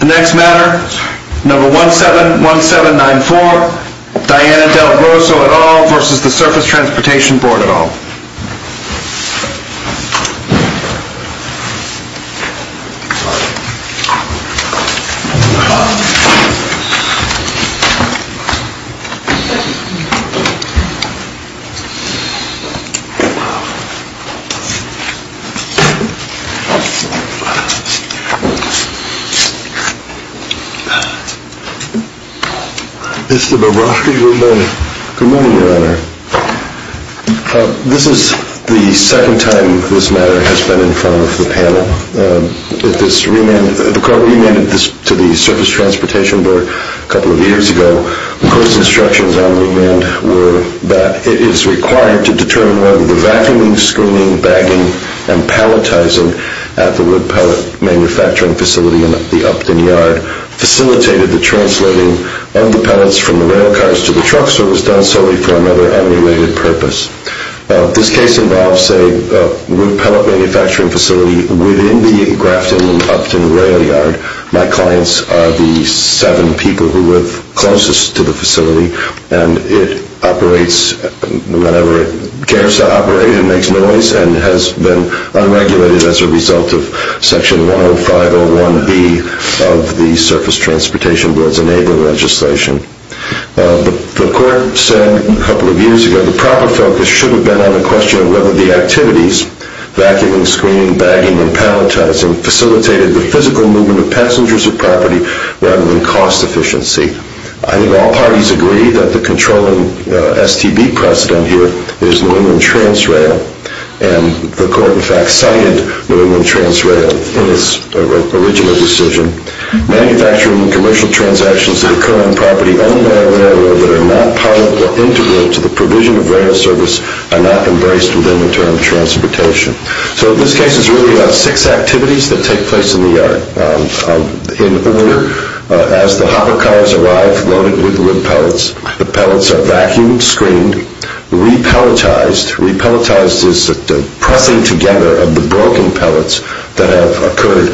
The next matter, number 171794, Diana Del Grosso et al. v. Surface Transportation Board et al. This is the second time this matter has been in front of the panel. The court remanded this to the Surface Transportation Board a couple of years ago. The court's instructions on remand were that it is required to determine whether the vacuuming, screening, bagging, and palletizing at the wood pellet manufacturing facility in the Upton Yard facilitated the translating of the pellets from the rail cars to the trucks or was done solely for another unrelated purpose. This case involves a wood pellet manufacturing facility within the Grafton-Upton Rail Yard. My clients are the seven people who live closest to the facility, and it operates whenever it cares to operate. It makes noise and has been unregulated as a result of Section 10501B of the Surface Transportation Board's enabling legislation. The court said a couple of years ago the proper focus should have been on the question of whether the activities vacuuming, screening, bagging, and palletizing facilitated the physical movement of passengers or property rather than cost efficiency. I think all parties agree that the controlling STB precedent here is New England TransRail, and the court in fact cited New England TransRail in its original decision. Manufacturing and commercial transactions that occur on property own by a railroad that are not part of or integral to the provision of rail service are not embraced within the term transportation. So this case is really about six activities that take place in the yard. In order, as the hopper cars arrive loaded with wood pellets, the pellets are vacuumed, screened, repelletized. Repelletized is the pressing together of the broken pellets that have occurred,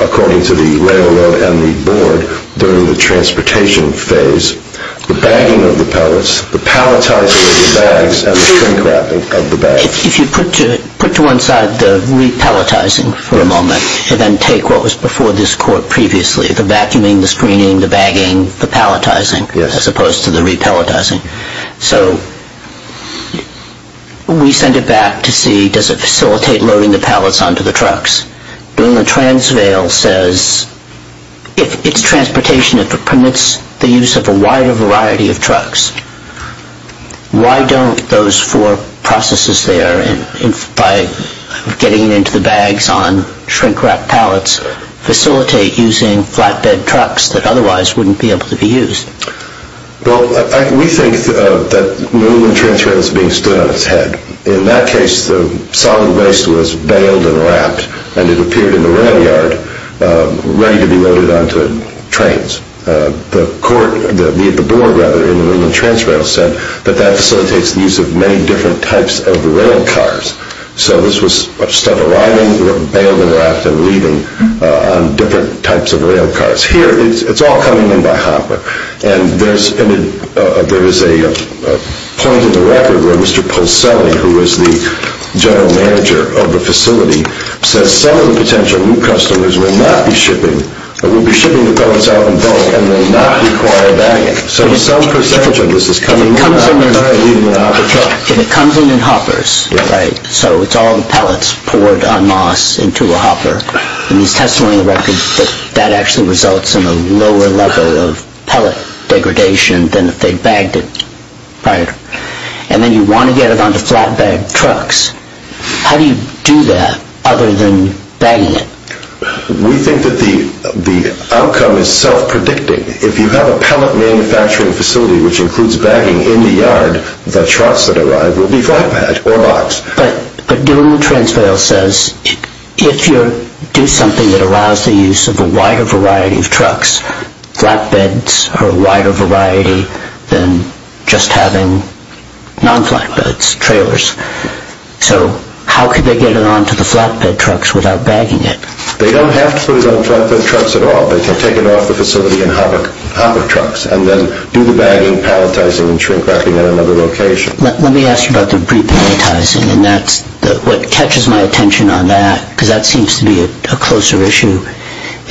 according to the railroad and the board, during the transportation phase, the bagging of the pellets, the palletizing of the bags, and the shrink wrapping of the bags. If you put to one side the repelletizing for a moment, and then take what was before this court previously, the vacuuming, the screening, the bagging, the palletizing, as opposed to the repelletizing. So we send it back to see, does it facilitate loading the pellets onto the trucks? New England TransRail says if it's transportation, if it permits the use of a wider variety of trucks, why don't those four processes there, by getting it into the bags on shrink-wrapped pellets, facilitate using flatbed trucks that otherwise wouldn't be able to be used? Well, we think that New England TransRail is being stood on its head. In that case, the solid waste was baled and wrapped, and it appeared in the rail yard, ready to be loaded onto trains. The board in New England TransRail said that that facilitates the use of many different types of rail cars. So this was stuff arriving, baled and wrapped, and leaving on different types of rail cars. Here, it's all coming in by hopper, and there is a point in the record where Mr. Polselli, who is the general manager of the facility, says some of the potential new customers will not be shipping, will be shipping the pellets out in bulk and will not require bagging. So some percentage of this is coming in by leaving a hopper truck. If it comes in in hoppers, right, so it's all the pellets poured en masse into a hopper, and there's testimony in the record that that actually results in a lower level of pellet degradation than if they bagged it prior. And then you want to get it onto flatbed trucks. How do you do that other than bagging it? We think that the outcome is self-predicting. If you have a pellet manufacturing facility which includes bagging in the yard, the trucks that arrive will be flatbed or boxed. But doing the transrail says if you do something that allows the use of a wider variety of trucks, flatbeds are a wider variety than just having non-flatbeds, trailers. So how could they get it onto the flatbed trucks without bagging it? They don't have to put it on flatbed trucks at all. They can take it off the facility in hopper trucks and then do the bagging, pelletizing, and shrink wrapping at another location. Let me ask you about the repelletizing, and what catches my attention on that, because that seems to be a closer issue,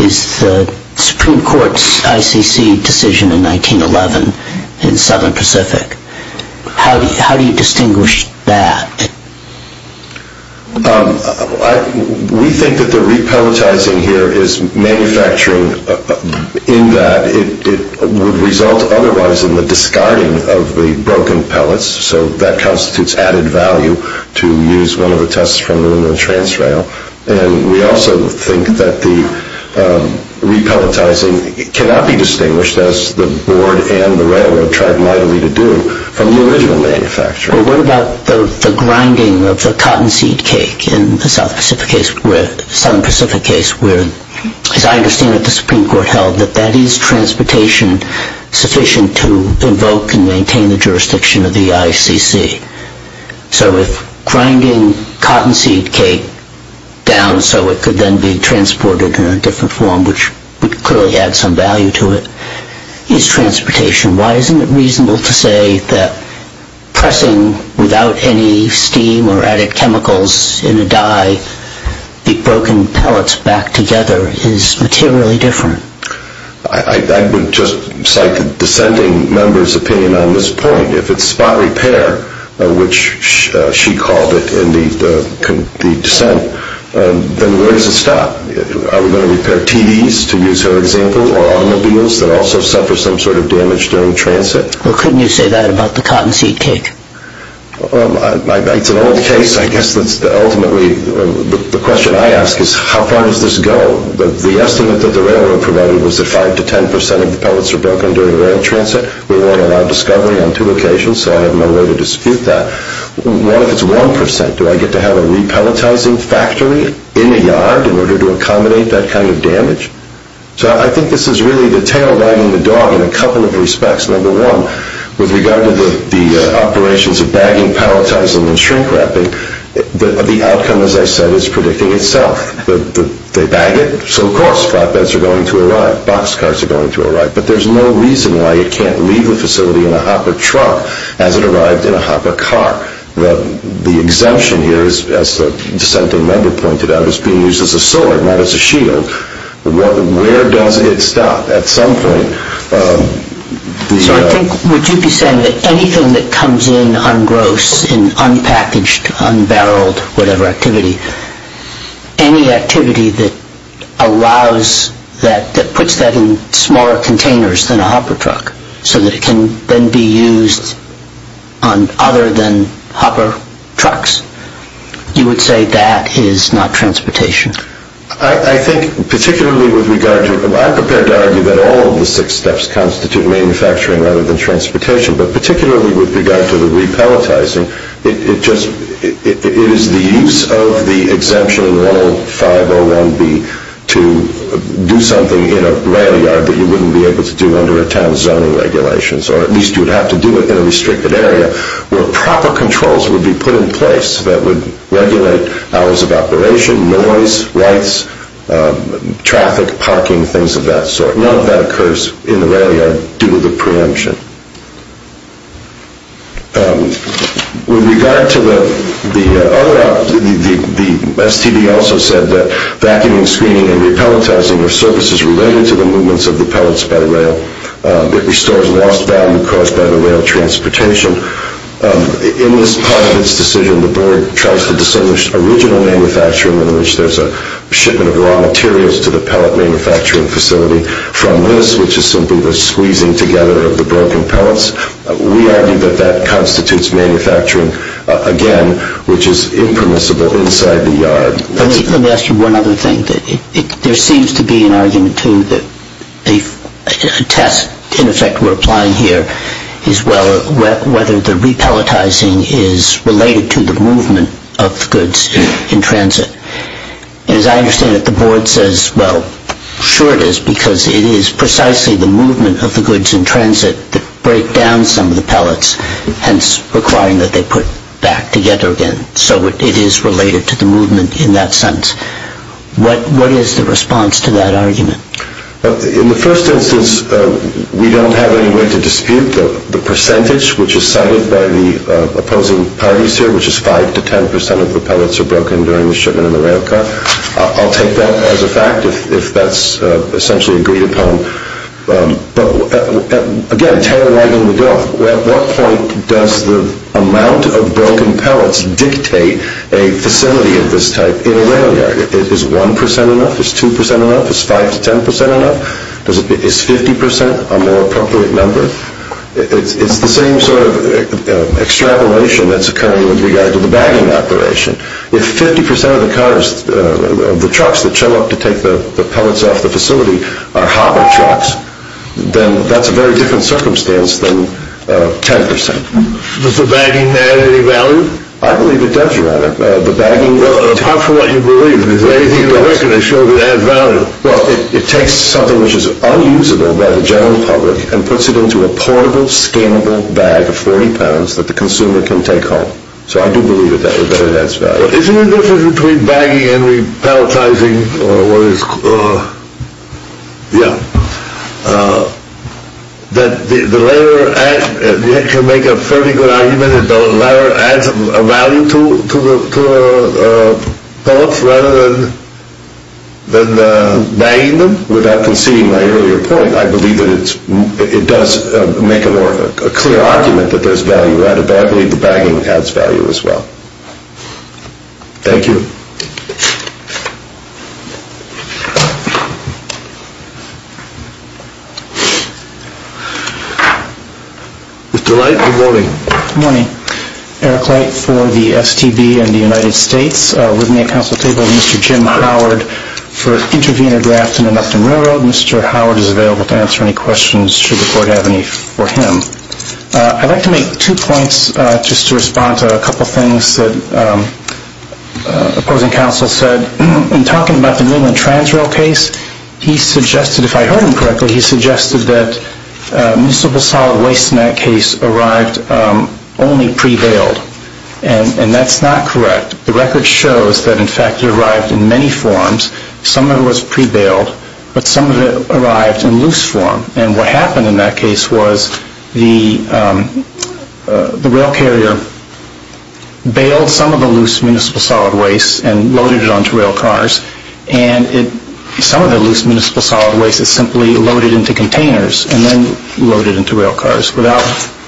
is the Supreme Court's ICC decision in 1911 in Southern Pacific. How do you distinguish that? We think that the repelletizing here is manufacturing in that it would result otherwise in the discarding of the broken pellets. So that constitutes added value to use one of the tests from the transrail. And we also think that the repelletizing cannot be distinguished, as the board and the railroad tried mightily to do, from the original manufacturing. But what about the grinding of the cotton seed cake in the Southern Pacific case, where, as I understand it, the Supreme Court held that that is transportation sufficient to invoke and maintain the jurisdiction of the ICC. So if grinding cotton seed cake down so it could then be transported in a different form, which would clearly add some value to it, is transportation. Why isn't it reasonable to say that pressing without any steam or added chemicals in a dye the broken pellets back together is materially different? I would just cite the dissenting member's opinion on this point. If it's spot repair, which she called it in the dissent, then where does it stop? Are we going to repair TVs, to use her example, or automobiles that also suffer some sort of damage during transit? Well, couldn't you say that about the cotton seed cake? It's an old case. I guess that's ultimately the question I ask is how far does this go? The estimate that the railroad provided was that 5 to 10 percent of the pellets were broken during rail transit. We won't allow discovery on two occasions, so I have no way to dispute that. What if it's 1 percent? Do I get to have a repelletizing factory in a yard in order to accommodate that kind of damage? So I think this is really the tail wagging the dog in a couple of respects. Number one, with regard to the operations of bagging, pelletizing, and shrink-wrapping, the outcome, as I said, is predicting itself. They bag it, so of course flatbeds are going to arrive, boxcars are going to arrive, but there's no reason why it can't leave the facility in a hopper truck as it arrived in a hopper car. The exemption here, as the dissenting member pointed out, is being used as a sword, not as a shield. Where does it stop? At some point... So I think, would you be saying that anything that comes in ungross, in unpackaged, unbarreled, whatever activity, any activity that allows that, that puts that in smaller containers than a hopper truck, so that it can then be used on other than hopper trucks, you would say that is not transportation? I think particularly with regard to... I'm prepared to argue that all of the six steps constitute manufacturing rather than transportation, but particularly with regard to the re-pelletizing, it is the use of the exemption 105.01b to do something in a rail yard that you wouldn't be able to do under a town zoning regulation, or at least you would have to do it in a restricted area, where proper controls would be put in place that would regulate hours of operation, noise, lights, traffic, parking, things of that sort. None of that occurs in the rail yard due to the preemption. With regard to the other... The STD also said that vacuuming, screening, and re-pelletizing are services It restores lost value caused by the rail transportation. In this part of its decision, the board tries to distinguish original manufacturing, in which there's a shipment of raw materials to the pellet manufacturing facility, from this, which is simply the squeezing together of the broken pellets. We argue that that constitutes manufacturing, again, which is impermissible inside the yard. Let me ask you one other thing. There seems to be an argument, too, that a test, in effect, we're applying here, is whether the re-pelletizing is related to the movement of goods in transit. As I understand it, the board says, well, sure it is, because it is precisely the movement of the goods in transit that break down some of the pellets, hence requiring that they put back together again. So it is related to the movement in that sense. What is the response to that argument? In the first instance, we don't have any way to dispute the percentage, which is cited by the opposing parties here, which is 5 to 10 percent of the pellets are broken during the shipment in the rail car. I'll take that as a fact, if that's essentially agreed upon. But, again, tail wagging the dog. At what point does the amount of broken pellets dictate a facility of this type in a rail yard? Is 1 percent enough? Is 2 percent enough? Is 5 to 10 percent enough? Is 50 percent a more appropriate number? It's the same sort of extrapolation that's occurring with regard to the bagging operation. If 50 percent of the trucks that show up to take the pellets off the facility are hobble trucks, then that's a very different circumstance than 10 percent. Does the bagging add any value? I believe it does, rather. Apart from what you believe, is there anything in the record that shows it adds value? Well, it takes something which is unusable by the general public and puts it into a portable, scannable bag of 40 pounds that the consumer can take home. So I do believe that it adds value. Is there a difference between bagging and repelletizing? Yeah. That the latter can make a fairly good argument, and the latter adds a value to the pellets rather than bagging them? Without conceding my earlier point, I believe that it does make a more clear argument that there's value added. But I believe the bagging adds value as well. Thank you. Mr. Light, good morning. Good morning. Eric Light for the STB and the United States. With me at council table is Mr. Jim Howard for intervenor draft in the Mpton Railroad. Mr. Howard is available to answer any questions should the court have any for him. I'd like to make two points just to respond to a couple things that opposing counsel said. In talking about the Newland Transrail case, he suggested, if I heard him correctly, he suggested that municipal solid waste in that case arrived only pre-bailed. And that's not correct. The record shows that, in fact, it arrived in many forms. Some of it was pre-bailed, but some of it arrived in loose form. And what happened in that case was the rail carrier bailed some of the loose municipal solid waste and loaded it onto rail cars. And some of the loose municipal solid waste is simply loaded into containers and then loaded into rail cars without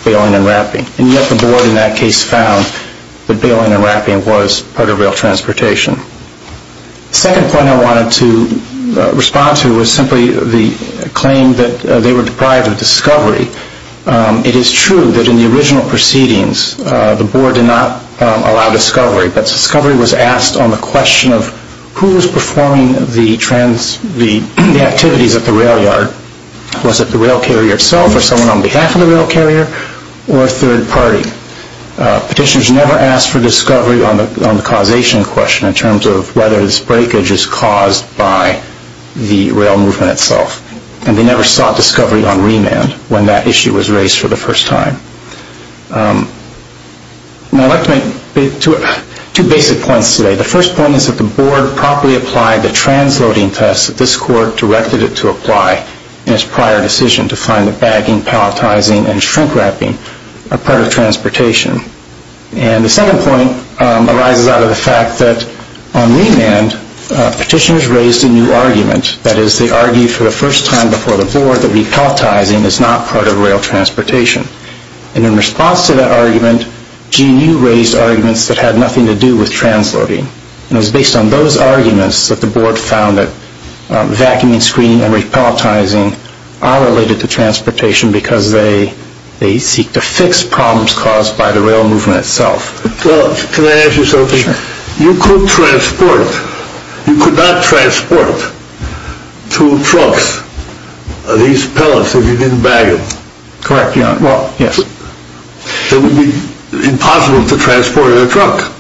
bailing and wrapping. And yet the board in that case found that bailing and wrapping was part of rail transportation. The second point I wanted to respond to was simply the claim that they were deprived of discovery. It is true that in the original proceedings the board did not allow discovery, but discovery was asked on the question of who was performing the activities at the rail yard. Was it the rail carrier itself or someone on behalf of the rail carrier or a third party? Petitioners never asked for discovery on the causation question in terms of whether this breakage is caused by the rail movement itself. And they never sought discovery on remand when that issue was raised for the first time. I'd like to make two basic points today. The first point is that the board properly applied the transloading test that this court directed it to apply in its prior decision to find that bagging, palletizing, and shrink-wrapping are part of transportation. And the second point arises out of the fact that on remand, petitioners raised a new argument. That is, they argued for the first time before the board that repalletizing is not part of rail transportation. And in response to that argument, GNU raised arguments that had nothing to do with transloading. And it was based on those arguments that the board found that vacuuming, screening, and repalletizing are related to transportation because they seek to fix problems caused by the rail movement itself. Can I ask you something? Sure. You could transport, you could not transport to trucks these pallets if you didn't bag them. Correct, Your Honor. Well, yes. It would be impossible to transport in a truck,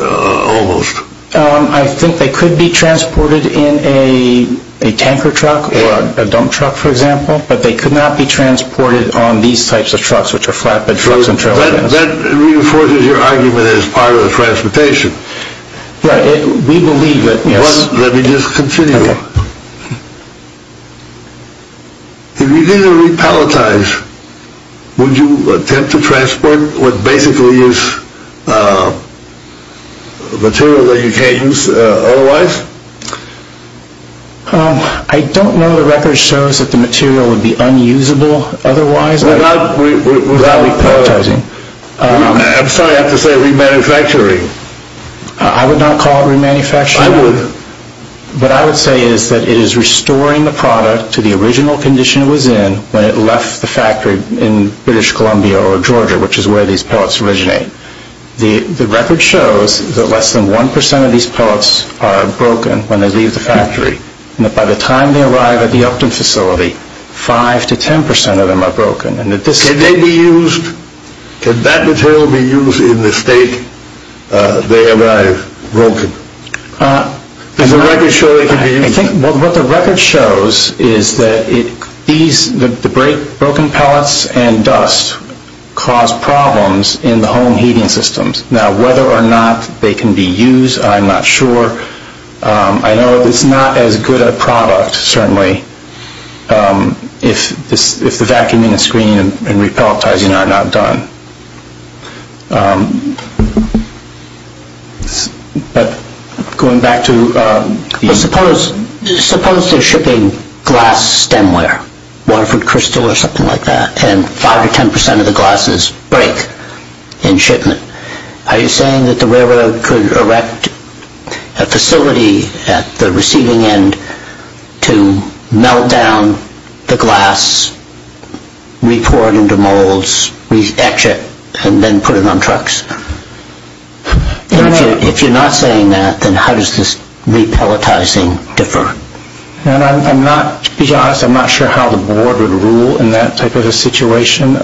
almost. I think they could be transported in a tanker truck or a dump truck, for example, but they could not be transported on these types of trucks, which are flatbed trucks and trailer trucks. That reinforces your argument as part of the transportation. We believe that, yes. Let me just continue. Okay. If you didn't repalletize, would you attempt to transport what basically is material that you can't use otherwise? I don't know the record shows that the material would be unusable otherwise without repalletizing. I'm sorry, I have to say remanufacturing. I would not call it remanufacturing. I would. What I would say is that it is restoring the product to the original condition it was in when it left the factory in British Columbia or Georgia, which is where these pallets originate. The record shows that less than 1% of these pallets are broken when they leave the factory and that by the time they arrive at the Upton facility, 5 to 10% of them are broken. Can they be used? Can that material be used in the state they arrive broken? Does the record show they can be used? I think what the record shows is that the broken pallets and dust cause problems in the home heating systems. Now, whether or not they can be used, I'm not sure. I know it's not as good a product, certainly, if the vacuuming and screening and repalletizing are not done. Suppose they're shipping glass stemware, Waterford Crystal or something like that, and 5 to 10% of the glasses break in shipment. Are you saying that the railroad could erect a facility at the receiving end to melt down the glass, re-pour it into molds, re-etch it, and then put it on trucks? If you're not saying that, then how does this repalletizing differ? To be honest, I'm not sure how the board would rule in that type of a situation.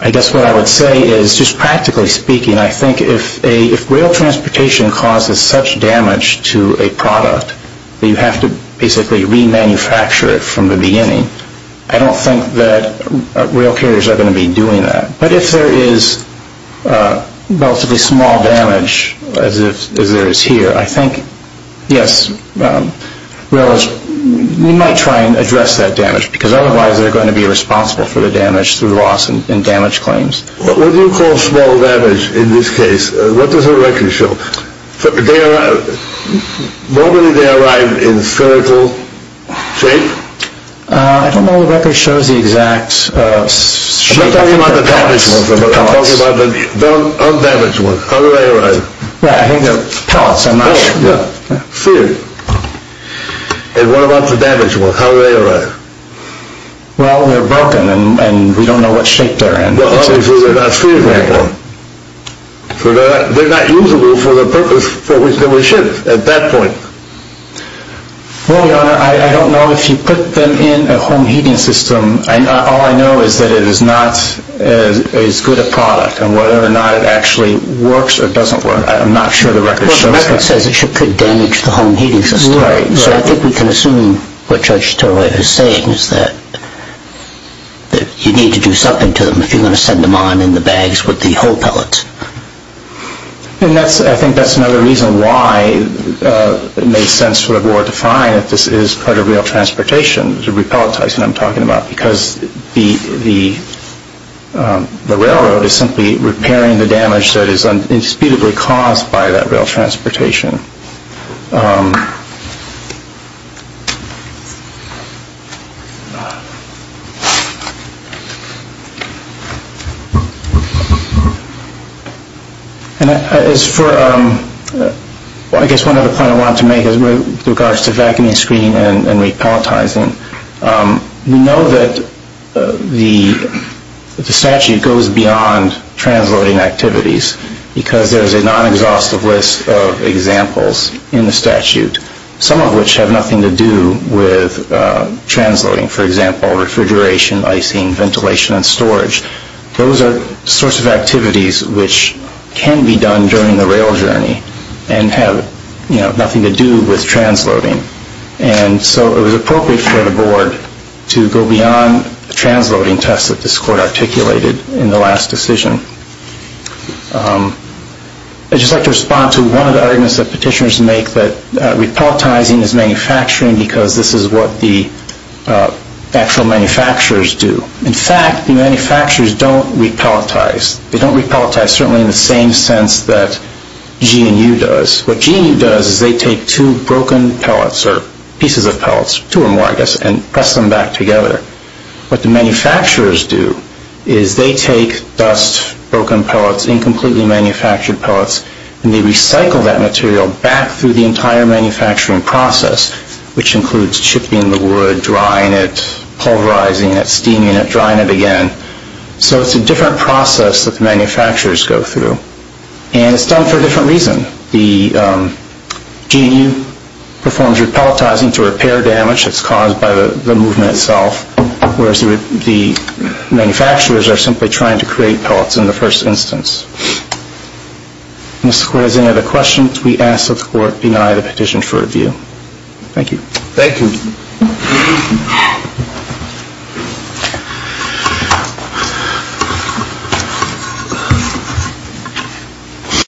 I guess what I would say is, just practically speaking, I think if rail transportation causes such damage to a product that you have to basically re-manufacture it from the beginning, I don't think that rail carriers are going to be doing that. But if there is relatively small damage, as there is here, I think, yes, we might try and address that damage, because otherwise they're going to be responsible for the damage through loss and damage claims. What do you call small damage in this case? What does the record show? Normally they arrive in spherical shape? I don't know the record shows the exact shape. I'm talking about the pellets. I'm talking about the undamaged ones. How do they arrive? Yeah, I think they're pellets. Yeah, sphere. And what about the damaged ones? How do they arrive? Well, they're broken, and we don't know what shape they're in. Well, obviously they're not spheres anymore. So they're not usable for the purpose for which they were shipped at that point. Well, Your Honor, I don't know. If you put them in a home heating system, all I know is that it is not as good a product, and whether or not it actually works or doesn't work, I'm not sure the record shows that. The record says it could damage the home heating system. So I think we can assume what Judge Sterloff is saying is that you need to do something to them if you're going to send them on in the bags with the whole pellets. And I think that's another reason why it makes sense for the board to find if this is part of rail transportation, the repellent types that I'm talking about, because the railroad is simply repairing the damage that is indisputably caused by that rail transportation. And as for, I guess one other point I wanted to make with regards to vacuuming, screening, and repellentizing, we know that the statute goes beyond transloading activities because there's a non-exhaustive list of examples in the statute, some of which have nothing to do with transloading. For example, refrigeration, icing, ventilation, and storage. Those are sorts of activities which can be done during the rail journey and have nothing to do with transloading. And so it was appropriate for the board to go beyond the transloading test that this court articulated in the last decision. I'd just like to respond to one of the arguments that petitioners make that repellentizing is manufacturing because this is what the actual manufacturers do. In fact, the manufacturers don't repellentize. They don't repellentize certainly in the same sense that GNU does. What GNU does is they take two broken pellets or pieces of pellets, two or more, I guess, and press them back together. What the manufacturers do is they take dust, broken pellets, incompletely manufactured pellets, and they recycle that material back through the entire manufacturing process, which includes chipping the wood, drying it, pulverizing it, steaming it, drying it again. So it's a different process that the manufacturers go through. And it's done for a different reason. GNU performs repellentizing to repair damage that's caused by the movement itself, whereas the manufacturers are simply trying to create pellets in the first instance. Mr. Square, is there any other questions? We ask that the court deny the petition for review. Thank you. Thank you.